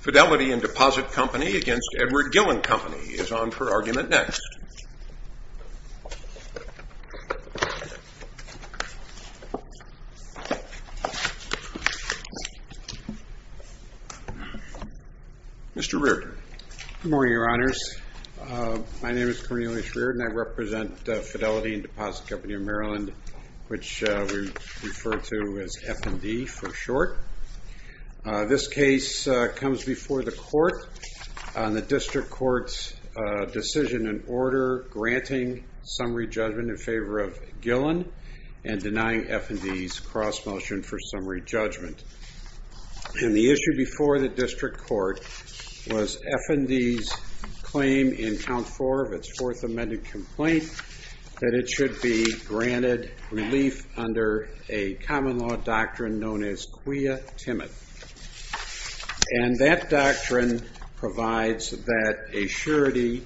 Fidelity and Deposit Company against Edward Gillen Company is on for argument next. Mr. Reardon. Good morning, Your Honors. My name is Cornelius Reardon. I represent Fidelity and Deposit Company of Maryland, which we refer to as F&D. F&D for short. This case comes before the court on the district court's decision in order granting summary judgment in favor of Gillen and denying F&D's cross motion for summary judgment. And the issue before the district court was F&D's claim in count four of its fourth amended complaint that it should be granted relief under a common law doctrine known as quia timid. And that doctrine provides that a surety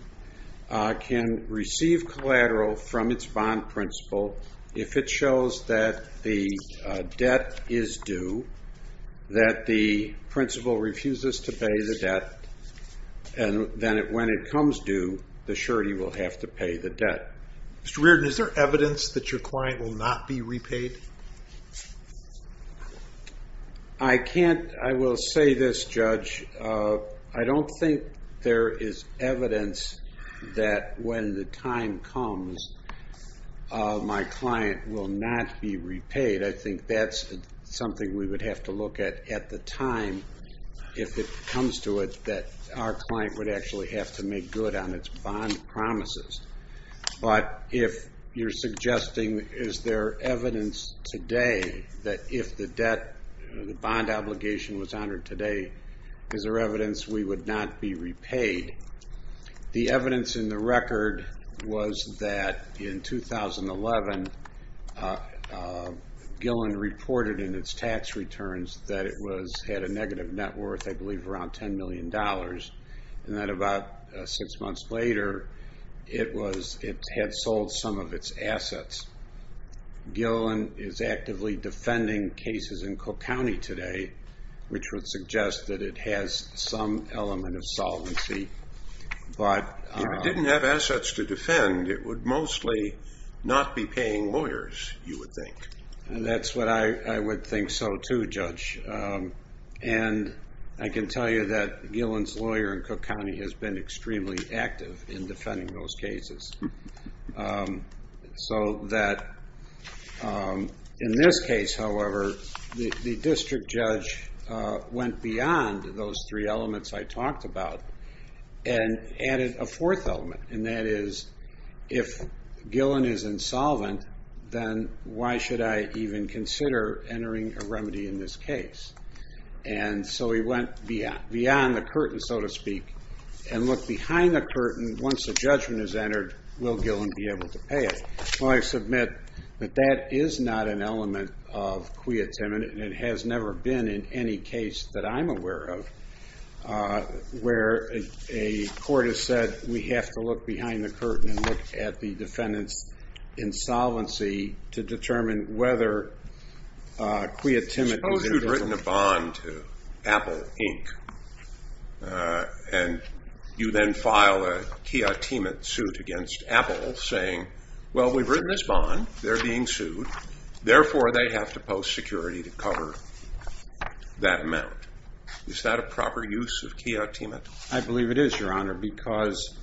can receive collateral from its bond principal if it shows that the debt is due, that the principal refuses to pay the debt, and then when it comes due, the surety will have to pay the debt. Mr. Reardon, is there evidence that your client will not be repaid? I can't. I will say this, Judge. I don't think there is evidence that when the time comes, my client will not be repaid. I think that's something we would have to look at at the time if it comes to it that our client would actually have to make good on its bond promises. But if you're suggesting is there evidence today that if the bond obligation was honored today, is there evidence we would not be repaid? The evidence in the record was that in 2011, Gillen reported in its tax returns that it had a negative net worth, I believe around $10 million, and that about six months later, it had sold some of its assets. Gillen is actively defending cases in Cook County today, which would suggest that it has some element of solvency. If it didn't have assets to defend, it would mostly not be paying lawyers, you would think. That's what I would think so too, Judge. And I can tell you that Gillen's lawyer in Cook County has been extremely active in defending those cases. So that in this case, however, the district judge went beyond those three elements I talked about and added a fourth element. And that is, if Gillen is insolvent, then why should I even consider entering a remedy in this case? And so he went beyond the curtain, so to speak, and looked behind the curtain. Once a judgment is entered, will Gillen be able to pay it? Well, I submit that that is not an element of quia timid, and it has never been in any case that I'm aware of, where a court has said we have to look behind the curtain and look at the defendant's insolvency to determine whether quia timid is indiscipline. If you've written a bond to Apple Inc., and you then file a quia timid suit against Apple saying, well, we've written this bond, they're being sued, therefore they have to post security to cover that amount. Is that a proper use of quia timid? I believe it is, Your Honor, because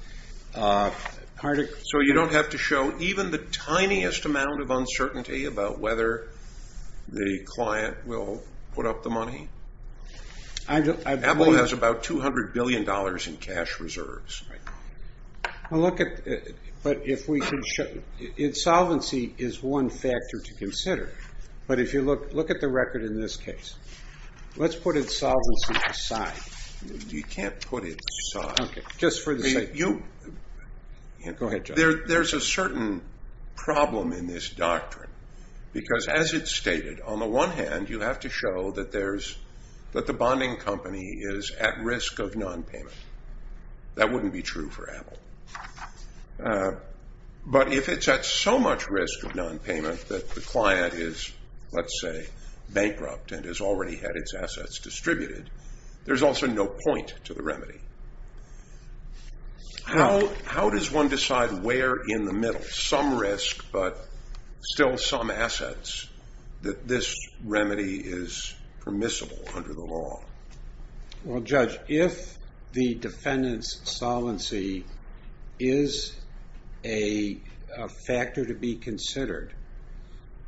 part of- So you don't have to show even the tiniest amount of uncertainty about whether the client will put up the money? Apple has about $200 billion in cash reserves right now. Well, look at, but if we can show, insolvency is one factor to consider. But if you look at the record in this case, let's put insolvency aside. You can't put it aside. Just for the sake- You- Go ahead, Judge. There's a certain problem in this doctrine, because as it's stated, on the one hand, you have to show that the bonding company is at risk of nonpayment. That wouldn't be true for Apple. But if it's at so much risk of nonpayment that the client is, let's say, bankrupt and has already had its assets distributed, there's also no point to the remedy. How does one decide where in the middle, some risk but still some assets, that this remedy is permissible under the law? Well, Judge, if the defendant's solvency is a factor to be considered,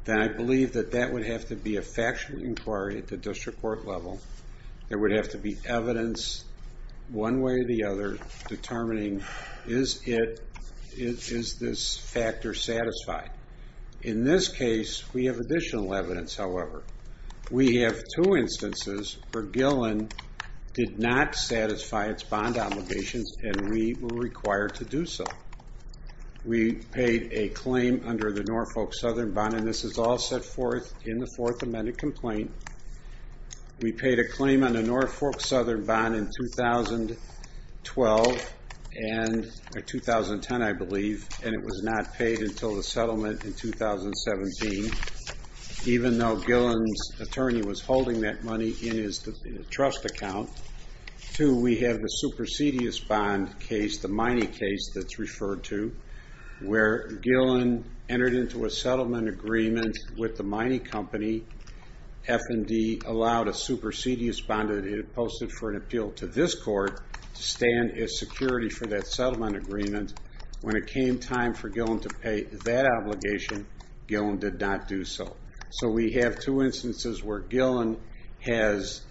then I believe that that would have to be a factual inquiry at the district court level. There would have to be evidence one way or the other determining, is this factor satisfied? In this case, we have additional evidence, however. We have two instances where Gillen did not satisfy its bond obligations, and we were required to do so. We paid a claim under the Norfolk Southern Bond, and this is all set forth in the Fourth Amendment complaint. We paid a claim on the Norfolk Southern Bond in 2010, I believe, and it was not paid until the settlement in 2017, even though Gillen's attorney was holding that money in his trust account. Two, we have the supersedious bond case, the Miney case that's referred to, where Gillen entered into a settlement agreement with the Miney Company. F&D allowed a supersedious bond that it had posted for an appeal to this court to stand as security for that settlement agreement. When it came time for Gillen to pay that obligation, Gillen did not do so. We have two instances where Gillen has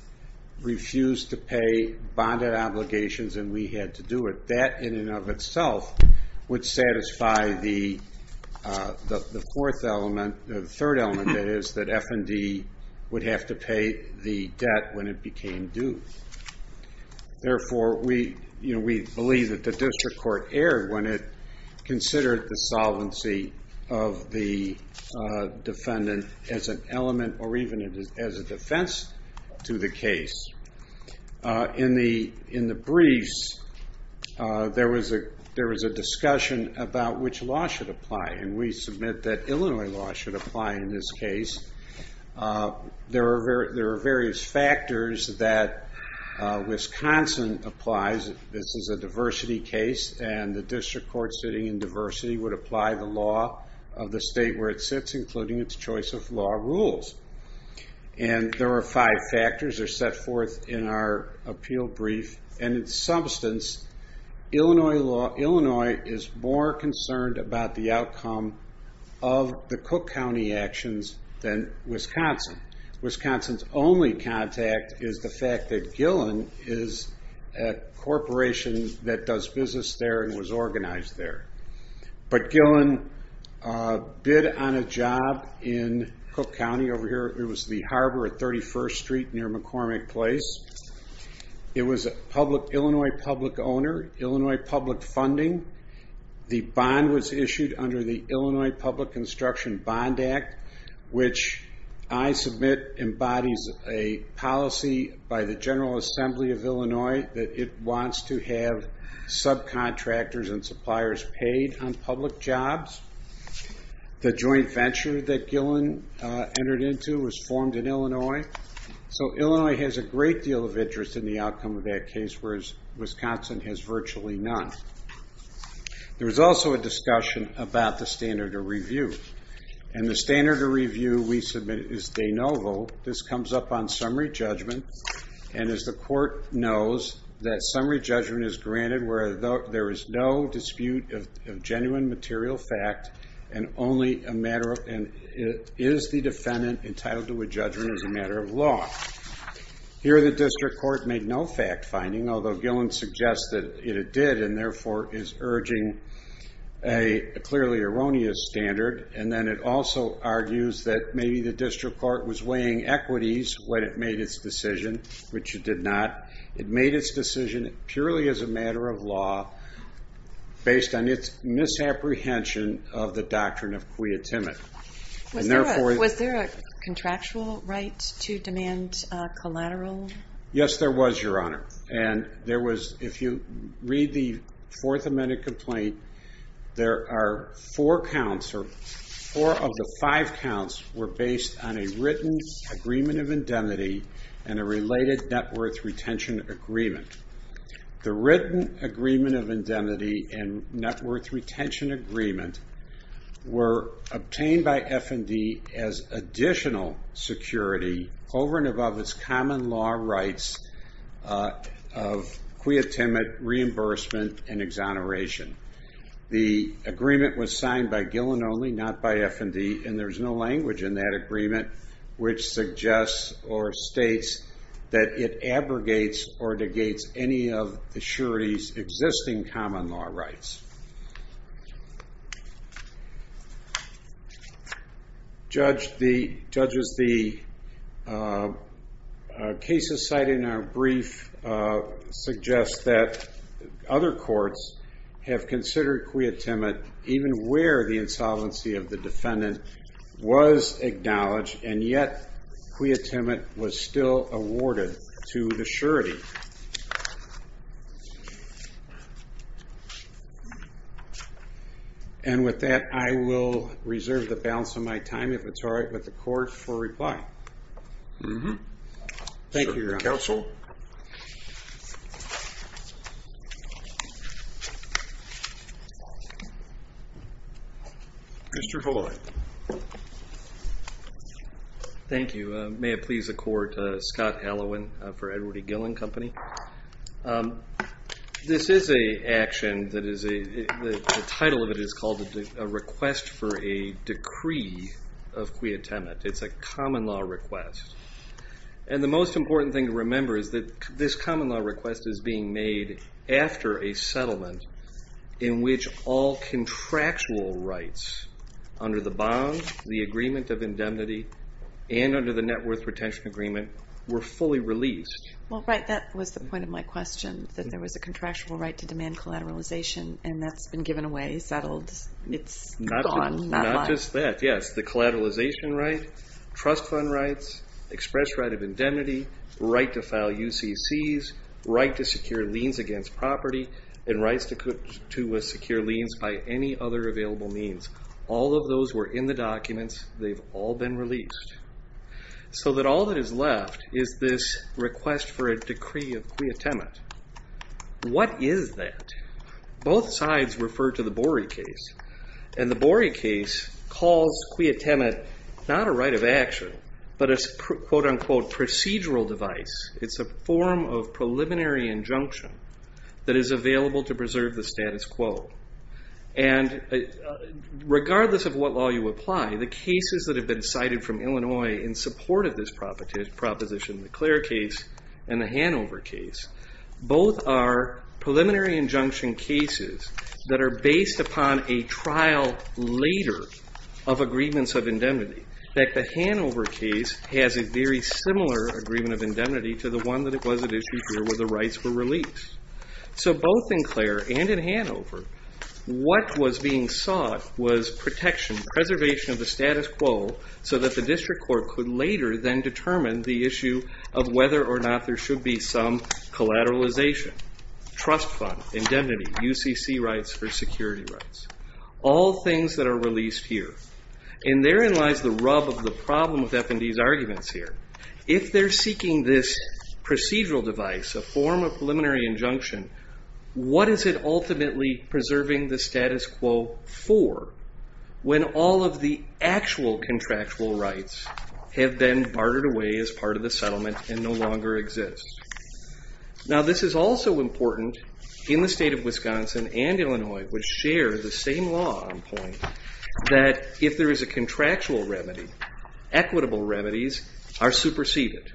refused to pay bonded obligations, and we had to do it. That, in and of itself, would satisfy the third element, that is, that F&D would have to pay the debt when it became due. Therefore, we believe that the district court erred when it considered the solvency of the defendant as an element or even as a defense to the case. In the briefs, there was a discussion about which law should apply, and we submit that Illinois law should apply in this case. There are various factors that Wisconsin applies. This is a diversity case, and the district court sitting in diversity would apply the law of the state where it sits, including its choice of law rules. There are five factors that are set forth in our appeal brief, and in substance, Illinois is more concerned about the outcome of the Cook County actions than Wisconsin. Wisconsin's only contact is the fact that Gillen is a corporation that does business there and was organized there. But Gillen did on a job in Cook County over here. It was the harbor at 31st Street near McCormick Place. It was an Illinois public owner, Illinois public funding. The bond was issued under the Illinois Public Construction Bond Act, which I submit embodies a policy by the General Assembly of Illinois that it wants to have subcontractors and suppliers paid on public jobs. The joint venture that Gillen entered into was formed in Illinois. So Illinois has a great deal of interest in the outcome of that case, whereas Wisconsin has virtually none. There was also a discussion about the standard of review, and the standard of review we submit is de novo. This comes up on summary judgment, and as the court knows, that summary judgment is granted where there is no dispute of genuine material fact and is the defendant entitled to a judgment as a matter of law. Here the district court made no fact finding, although Gillen suggests that it did, and therefore is urging a clearly erroneous standard. And then it also argues that maybe the district court was weighing equities when it made its decision, which it did not. It made its decision purely as a matter of law, based on its misapprehension of the doctrine of quia timid. Was there a contractual right to demand collateral? Yes, there was, Your Honor. If you read the Fourth Amendment complaint, there are four counts, or four of the five counts were based on a written agreement of indemnity and a related net worth retention agreement. The written agreement of indemnity and net worth retention agreement were obtained by F&D as additional security over and above its common law rights of quia timid, reimbursement, and exoneration. The agreement was signed by Gillen only, not by F&D, and there's no language in that agreement which suggests or states that it abrogates or negates any of the surety's existing common law rights. Judges, the cases cited in our brief suggest that other courts have considered quia timid even where the insolvency of the defendant was acknowledged, and yet quia timid was still awarded to the surety. And with that, I will reserve the balance of my time, if it's all right with the court, for reply. Thank you, Your Honor. Counsel? Mr. Pollard. Thank you. May it please the court, Scott Hallowen for Edward E. Gillen Company. This is an action that is a, the title of it is called a request for a decree of quia timid. It's a common law request, and the most important thing to remember is that this common law request is being made after a settlement in which all contractual rights under the bond, the agreement of indemnity, and under the net worth retention agreement were fully released. Well, right, that was the point of my question, that there was a contractual right to demand collateralization, and that's been given away, settled. It's gone. Not just that, yes. The collateralization right, trust fund rights, express right of indemnity, right to file UCCs, right to secure liens against property, and rights to secure liens by any other available means. All of those were in the documents. They've all been released. So that all that is left is this request for a decree of quia timid. What is that? Both sides refer to the Borey case, and the Borey case calls quia timid not a right of action, but a quote unquote procedural device. It's a form of preliminary injunction that is available to preserve the status quo. And regardless of what law you apply, the cases that have been cited from Illinois in support of this proposition, the Clare case and the Hanover case, both are preliminary injunction cases that are based upon a trial later of agreements of indemnity. In fact, the Hanover case has a very similar agreement of indemnity to the one that was at issue here where the rights were released. So both in Clare and in Hanover, what was being sought was protection, preservation of the status quo, so that the district court could later then determine the issue of whether or not there should be some collateralization, trust fund, indemnity, UCC rights for security rights, all things that are released here. And therein lies the rub of the problem with F&D's arguments here. If they're seeking this procedural device, a form of preliminary injunction, what is it ultimately preserving the status quo for when all of the actual contractual rights have been bartered away as part of the settlement and no longer exist? Now this is also important in the state of Wisconsin and Illinois, which share the same law on point, that if there is a contractual remedy, equitable remedies are superseded.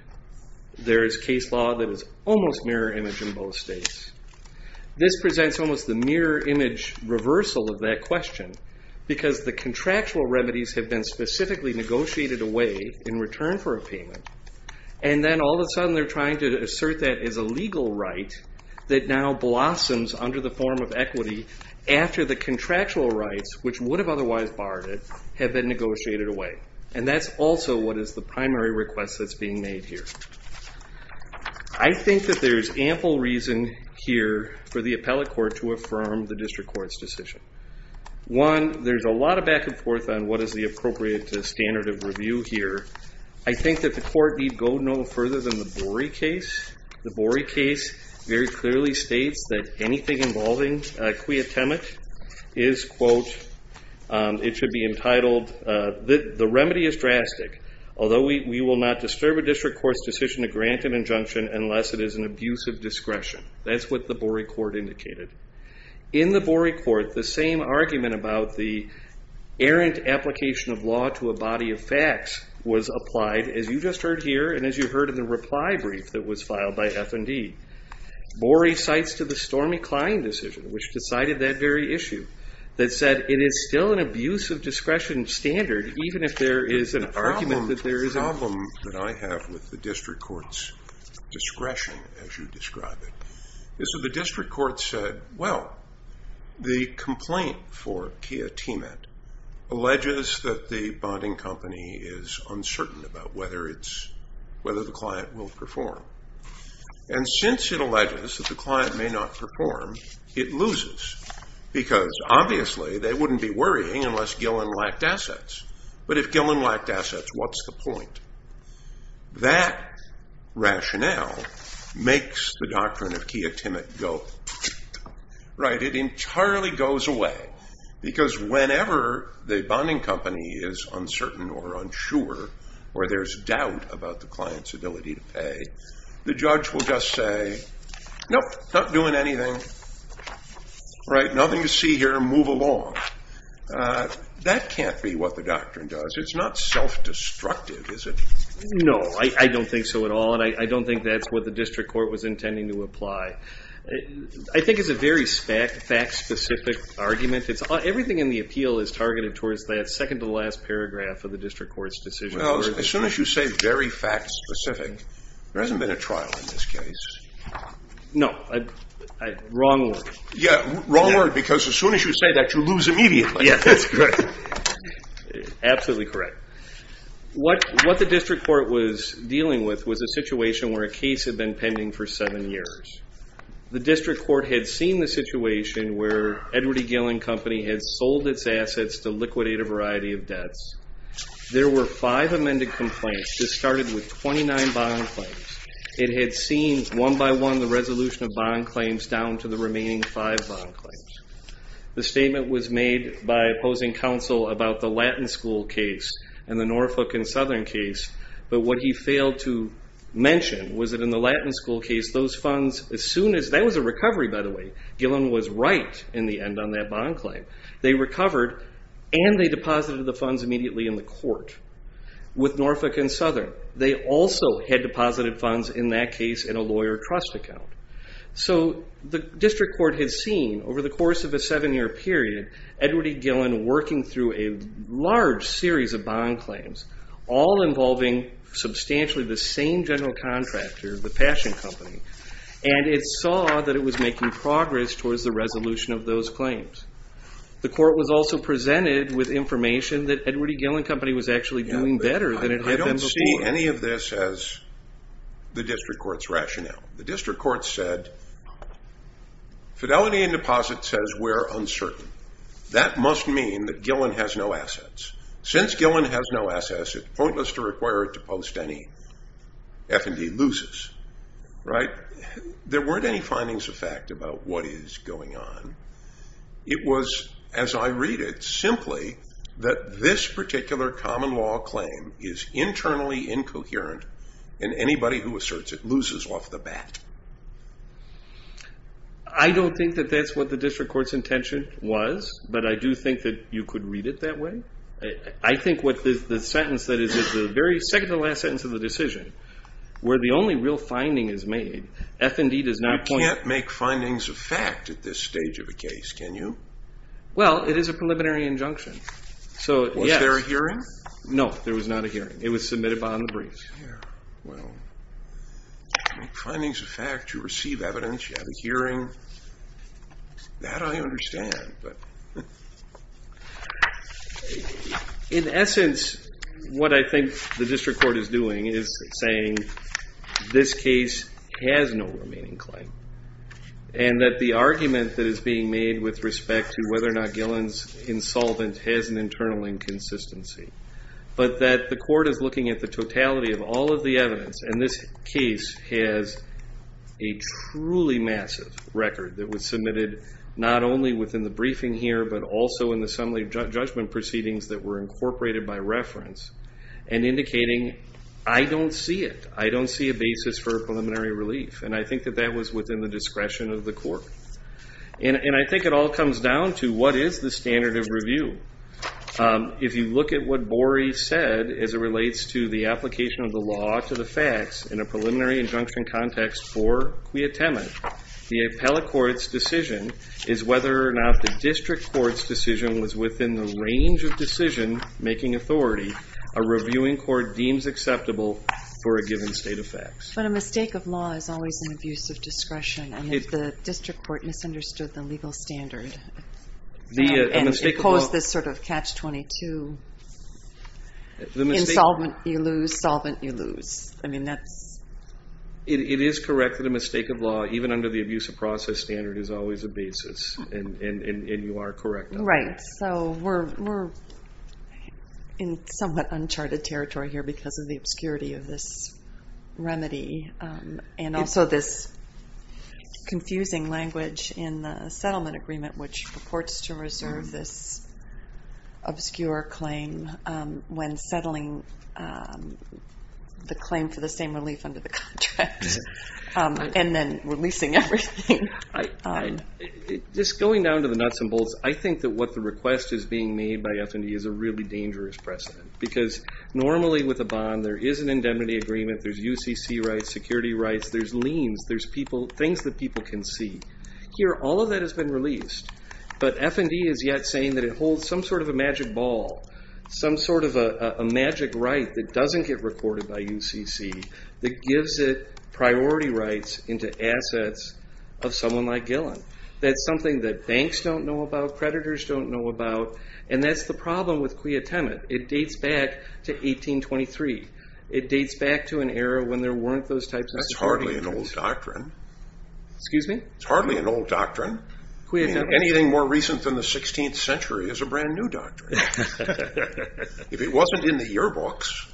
There is case law that is almost mirror image in both states. This presents almost the mirror image reversal of that question, because the contractual remedies have been specifically negotiated away in return for a payment, and then all of a sudden they're trying to assert that as a legal right that now blossoms under the form of equity after the contractual rights, which would have otherwise barred it, have been negotiated away. And that's also what is the primary request that's being made here. I think that there's ample reason here for the appellate court to affirm the district court's decision. One, there's a lot of back and forth on what is the appropriate standard of review here. I think that the court need go no further than the Borey case. The Borey case very clearly states that anything involving quia temet is, quote, it should be entitled, the remedy is drastic, although we will not disturb a district court's decision to grant an injunction unless it is an abuse of discretion. That's what the Borey court indicated. In the Borey court, the same argument about the errant application of law to a body of facts was applied, as you just heard here and as you heard in the reply brief that was filed by F&D. Borey cites to the Stormy Kline decision, which decided that very issue, that said it is still an abuse of discretion standard even if there is an argument that there is a problem. The problem that I have with the district court's discretion, as you describe it, is that the district court said, well, the complaint for quia temet alleges that the bonding company is uncertain about whether the client will perform. And since it alleges that the client may not perform, it loses, because obviously they wouldn't be worrying unless Gillen lacked assets. But if Gillen lacked assets, what's the point? That rationale makes the doctrine of quia temet go, right, it entirely goes away, because whenever the bonding company is uncertain or unsure, or there's doubt about the client's ability to pay, the judge will just say, nope, not doing anything, right, nothing to see here, move along. That can't be what the doctrine does. It's not self-destructive, is it? No, I don't think so at all, and I don't think that's what the district court was intending to apply. I think it's a very fact-specific argument. Everything in the appeal is targeted towards that second-to-last paragraph of the district court's decision. Well, as soon as you say very fact-specific, there hasn't been a trial in this case. No, wrong word. Yeah, wrong word, because as soon as you say that, you lose immediately. Yeah, that's correct. Absolutely correct. What the district court was dealing with was a situation where a case had been pending for seven years. The district court had seen the situation where Edward E. Gillen Company had sold its assets to liquidate a variety of debts. There were five amended complaints that started with 29 bond claims. It had seen, one by one, the resolution of bond claims down to the remaining five bond claims. The statement was made by opposing counsel about the Latin School case and the Norfolk and Southern case, but what he failed to mention was that in the Latin School case, those funds, as soon as that was a recovery, by the way. Gillen was right in the end on that bond claim. They recovered, and they deposited the funds immediately in the court with Norfolk and Southern. They also had deposited funds in that case in a lawyer trust account. So the district court had seen, over the course of a seven-year period, Edward E. Gillen working through a large series of bond claims, all involving substantially the same general contractor, the Passion Company, and it saw that it was making progress towards the resolution of those claims. The court was also presented with information that Edward E. Gillen Company was actually doing better than it had been before. I don't see any of this as the district court's rationale. The district court said, fidelity and deposit says we're uncertain. That must mean that Gillen has no assets. Since Gillen has no assets, it's pointless to require it to post any F&D loses, right? There weren't any findings of fact about what is going on. It was, as I read it, simply that this particular common law claim is internally incoherent, and anybody who asserts it loses off the bat. I don't think that that's what the district court's intention was, but I do think that you could read it that way. I think what the sentence that is at the very second-to-last sentence of the decision, where the only real finding is made, F&D does not point. You can't make findings of fact at this stage of a case, can you? Well, it is a preliminary injunction. Was there a hearing? No, there was not a hearing. It was submitted behind the briefs. Findings of fact, you receive evidence, you have a hearing. That I understand. In essence, what I think the district court is doing is saying this case has no remaining claim, and that the argument that is being made with respect to whether or not Gillen's insolvent has an internal inconsistency, but that the court is looking at the totality of all of the evidence, and this case has a truly massive record that was submitted not only within the briefing here, but also in the assembly judgment proceedings that were incorporated by reference, and indicating, I don't see it. I don't see a basis for preliminary relief. And I think that that was within the discretion of the court. And I think it all comes down to what is the standard of review? If you look at what Borey said as it relates to the application of the law to the facts in a preliminary injunction context for quiatement, the appellate court's decision is whether or not the district court's decision was within the range of decision-making authority a reviewing court deems acceptable for a given state of facts. But a mistake of law is always an abuse of discretion. And if the district court misunderstood the legal standard and imposed this sort of catch-22, insolvent you lose, solvent you lose. I mean, that's... It is correct that a mistake of law, even under the abuse of process standard, is always a basis. And you are correct. Right. So we're in somewhat uncharted territory here because of the obscurity of this remedy and also this confusing language in the settlement agreement, which purports to reserve this obscure claim when settling the claim for the same relief under the contract and then releasing everything. Just going down to the nuts and bolts, I think that what the request is being made by F&E is a really dangerous precedent because normally with a bond there is an indemnity agreement, there's UCC rights, security rights, there's liens, there's things that people can see. Here, all of that has been released. But F&E is yet saying that it holds some sort of a magic ball, some sort of a magic right that doesn't get recorded by UCC that gives it priority rights into assets of someone like Gillen. That's something that banks don't know about, creditors don't know about, and that's the problem with quiatement. It dates back to 1823. It dates back to an era when there weren't those types of security terms. That's hardly an old doctrine. Excuse me? It's hardly an old doctrine. Anything more recent than the 16th century is a brand new doctrine. If it wasn't in the yearbooks.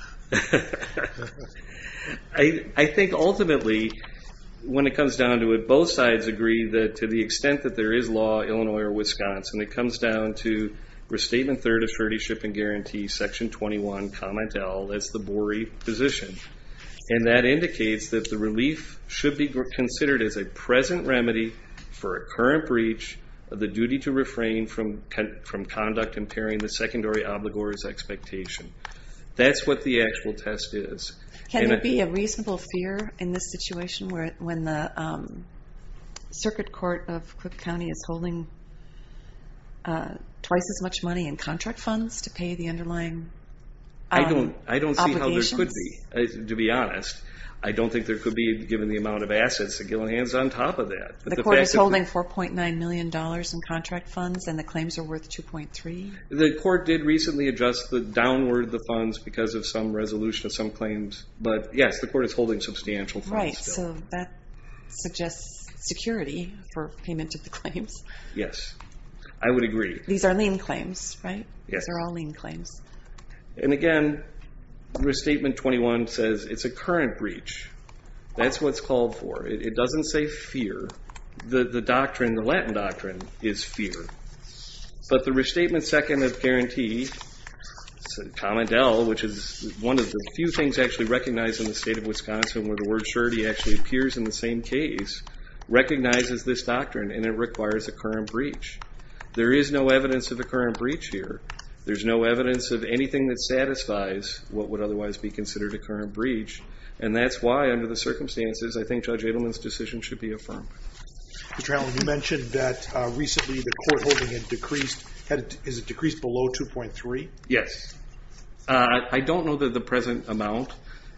I think ultimately, when it comes down to it, and it comes down to Restatement Third Assertionship and Guarantee, Section 21, Comment L, that's the Boree position, and that indicates that the relief should be considered as a present remedy for a current breach of the duty to refrain from conduct impairing the secondary obligor's expectation. That's what the actual test is. Can there be a reasonable fear in this situation when the Circuit Court of Cook County is holding twice as much money in contract funds to pay the underlying obligations? I don't see how there could be, to be honest. I don't think there could be, given the amount of assets, that Gillen has on top of that. The court is holding $4.9 million in contract funds, and the claims are worth $2.3? The court did recently adjust the downward of the funds because of some resolution of some claims. But, yes, the court is holding substantial funds. Right, so that suggests security for payment of the claims. Yes, I would agree. These are lien claims, right? Yes. These are all lien claims. And, again, Restatement 21 says it's a current breach. That's what it's called for. It doesn't say fear. The doctrine, the Latin doctrine, is fear. But the Restatement Second of Guarantee, Comment L, which is one of the few things actually recognized in the state of Wisconsin where the word surety actually appears in the same case, recognizes this doctrine, and it requires a current breach. There is no evidence of a current breach here. There's no evidence of anything that satisfies what would otherwise be considered a current breach. And that's why, under the circumstances, I think Judge Edelman's decision should be affirmed. Mr. Allen, you mentioned that recently the court holding it decreased. Is it decreased below $2.3? Yes. I don't know the present amount.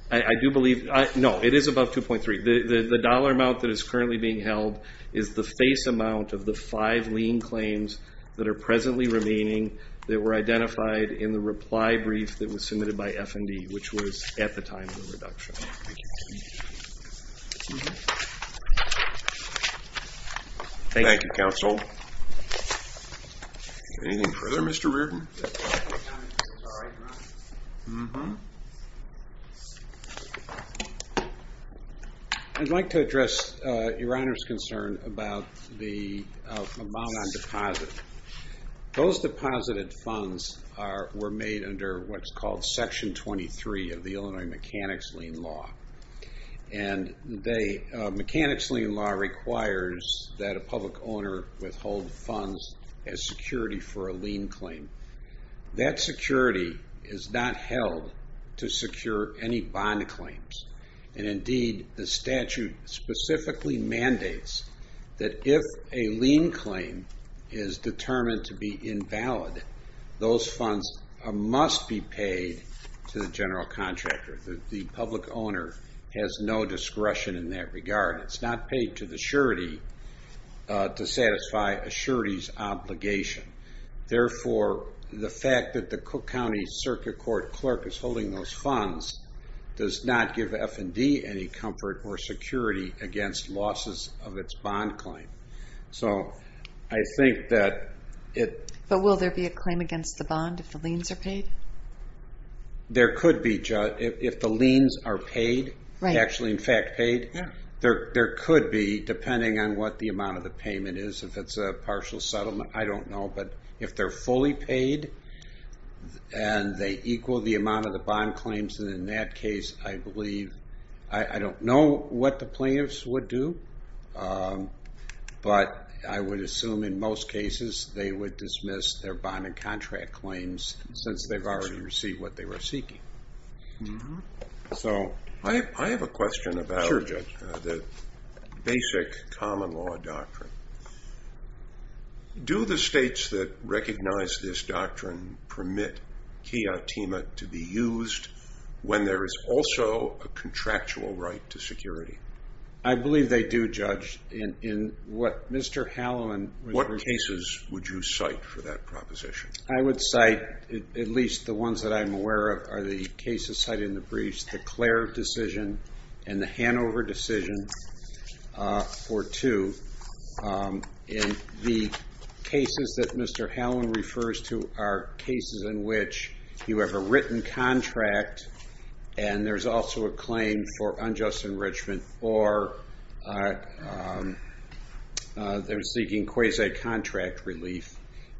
I do believe no, it is above $2.3. The dollar amount that is currently being held is the face amount of the five lien claims that are presently remaining that were identified in the reply brief that was submitted by F&D, which was at the time of the reduction. Thank you, counsel. Anything further, Mr. Reardon? I'd like to address your Honor's concern about the amount on deposit. Those deposited funds were made under what's called Section 23 of the Illinois Mechanics Lien Law. And the Mechanics Lien Law requires that a public owner withhold funds as security for a lien claim. That security is not held to secure any bond claims. And indeed, the statute specifically mandates that if a lien claim is determined to be invalid, those funds must be paid to the general contractor, that the public owner has no discretion in that regard. It's not paid to the surety to satisfy a surety's obligation. Therefore, the fact that the Cook County Circuit Court clerk is holding those funds does not give F&D any comfort or security against losses of its bond claim. So I think that it... But will there be a claim against the bond if the liens are paid? There could be, if the liens are paid, actually in fact paid. There could be, depending on what the amount of the payment is. If it's a partial settlement, I don't know. But if they're fully paid and they equal the amount of the bond claims, then in that case I believe... I don't know what the plaintiffs would do, but I would assume in most cases they would dismiss their bond and contract claims since they've already received what they were seeking. So... I have a question about the basic common law doctrine. Do the states that recognize this doctrine permit kiatima to be used when there is also a contractual right to security? I believe they do, Judge. In what Mr. Hallowen... What cases would you cite for that proposition? I would cite, at least the ones that I'm aware of, are the cases cited in the briefs, the Clare decision and the Hanover decision for two. And the cases that Mr. Hallowen refers to are cases in which you have a written contract and there's also a claim for unjust enrichment or they're seeking quasi-contract relief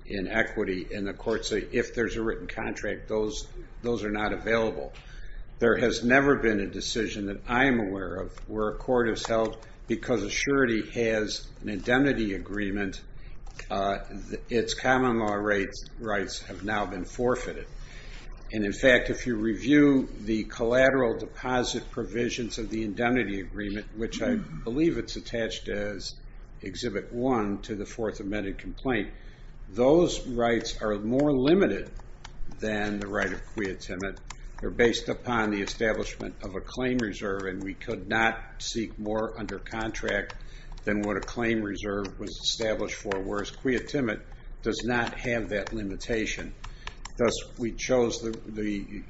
in equity, and the courts say if there's a written contract, those are not available. There has never been a decision that I am aware of where a court has held because a surety has an indemnity agreement, its common law rights have now been forfeited. And in fact, if you review the collateral deposit provisions of the indemnity agreement, which I believe it's attached as Exhibit 1 to the Fourth Amended Complaint, those rights are more limited than the right of kiatima based upon the establishment of a claim reserve, and we could not seek more under contract than what a claim reserve was established for, whereas kiatima does not have that limitation. Thus, we chose the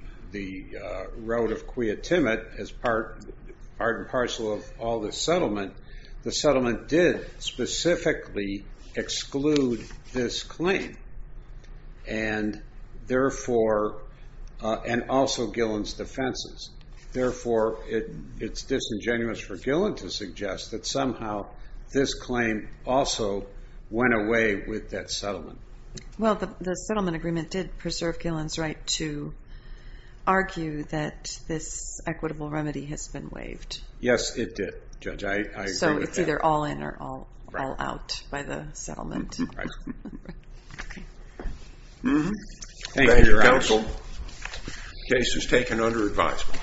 road of kiatima as part and parcel of all this settlement. The settlement did specifically exclude this claim and also Gillen's defenses. Therefore, it's disingenuous for Gillen to suggest that somehow this claim also went away with that settlement. Well, the settlement agreement did preserve Gillen's right to argue that this equitable remedy has been waived. Yes, it did, Judge. I agree with that. So it's either all in or all out by the settlement. Right. Thank you, Your Honor. The case is taken under advisement.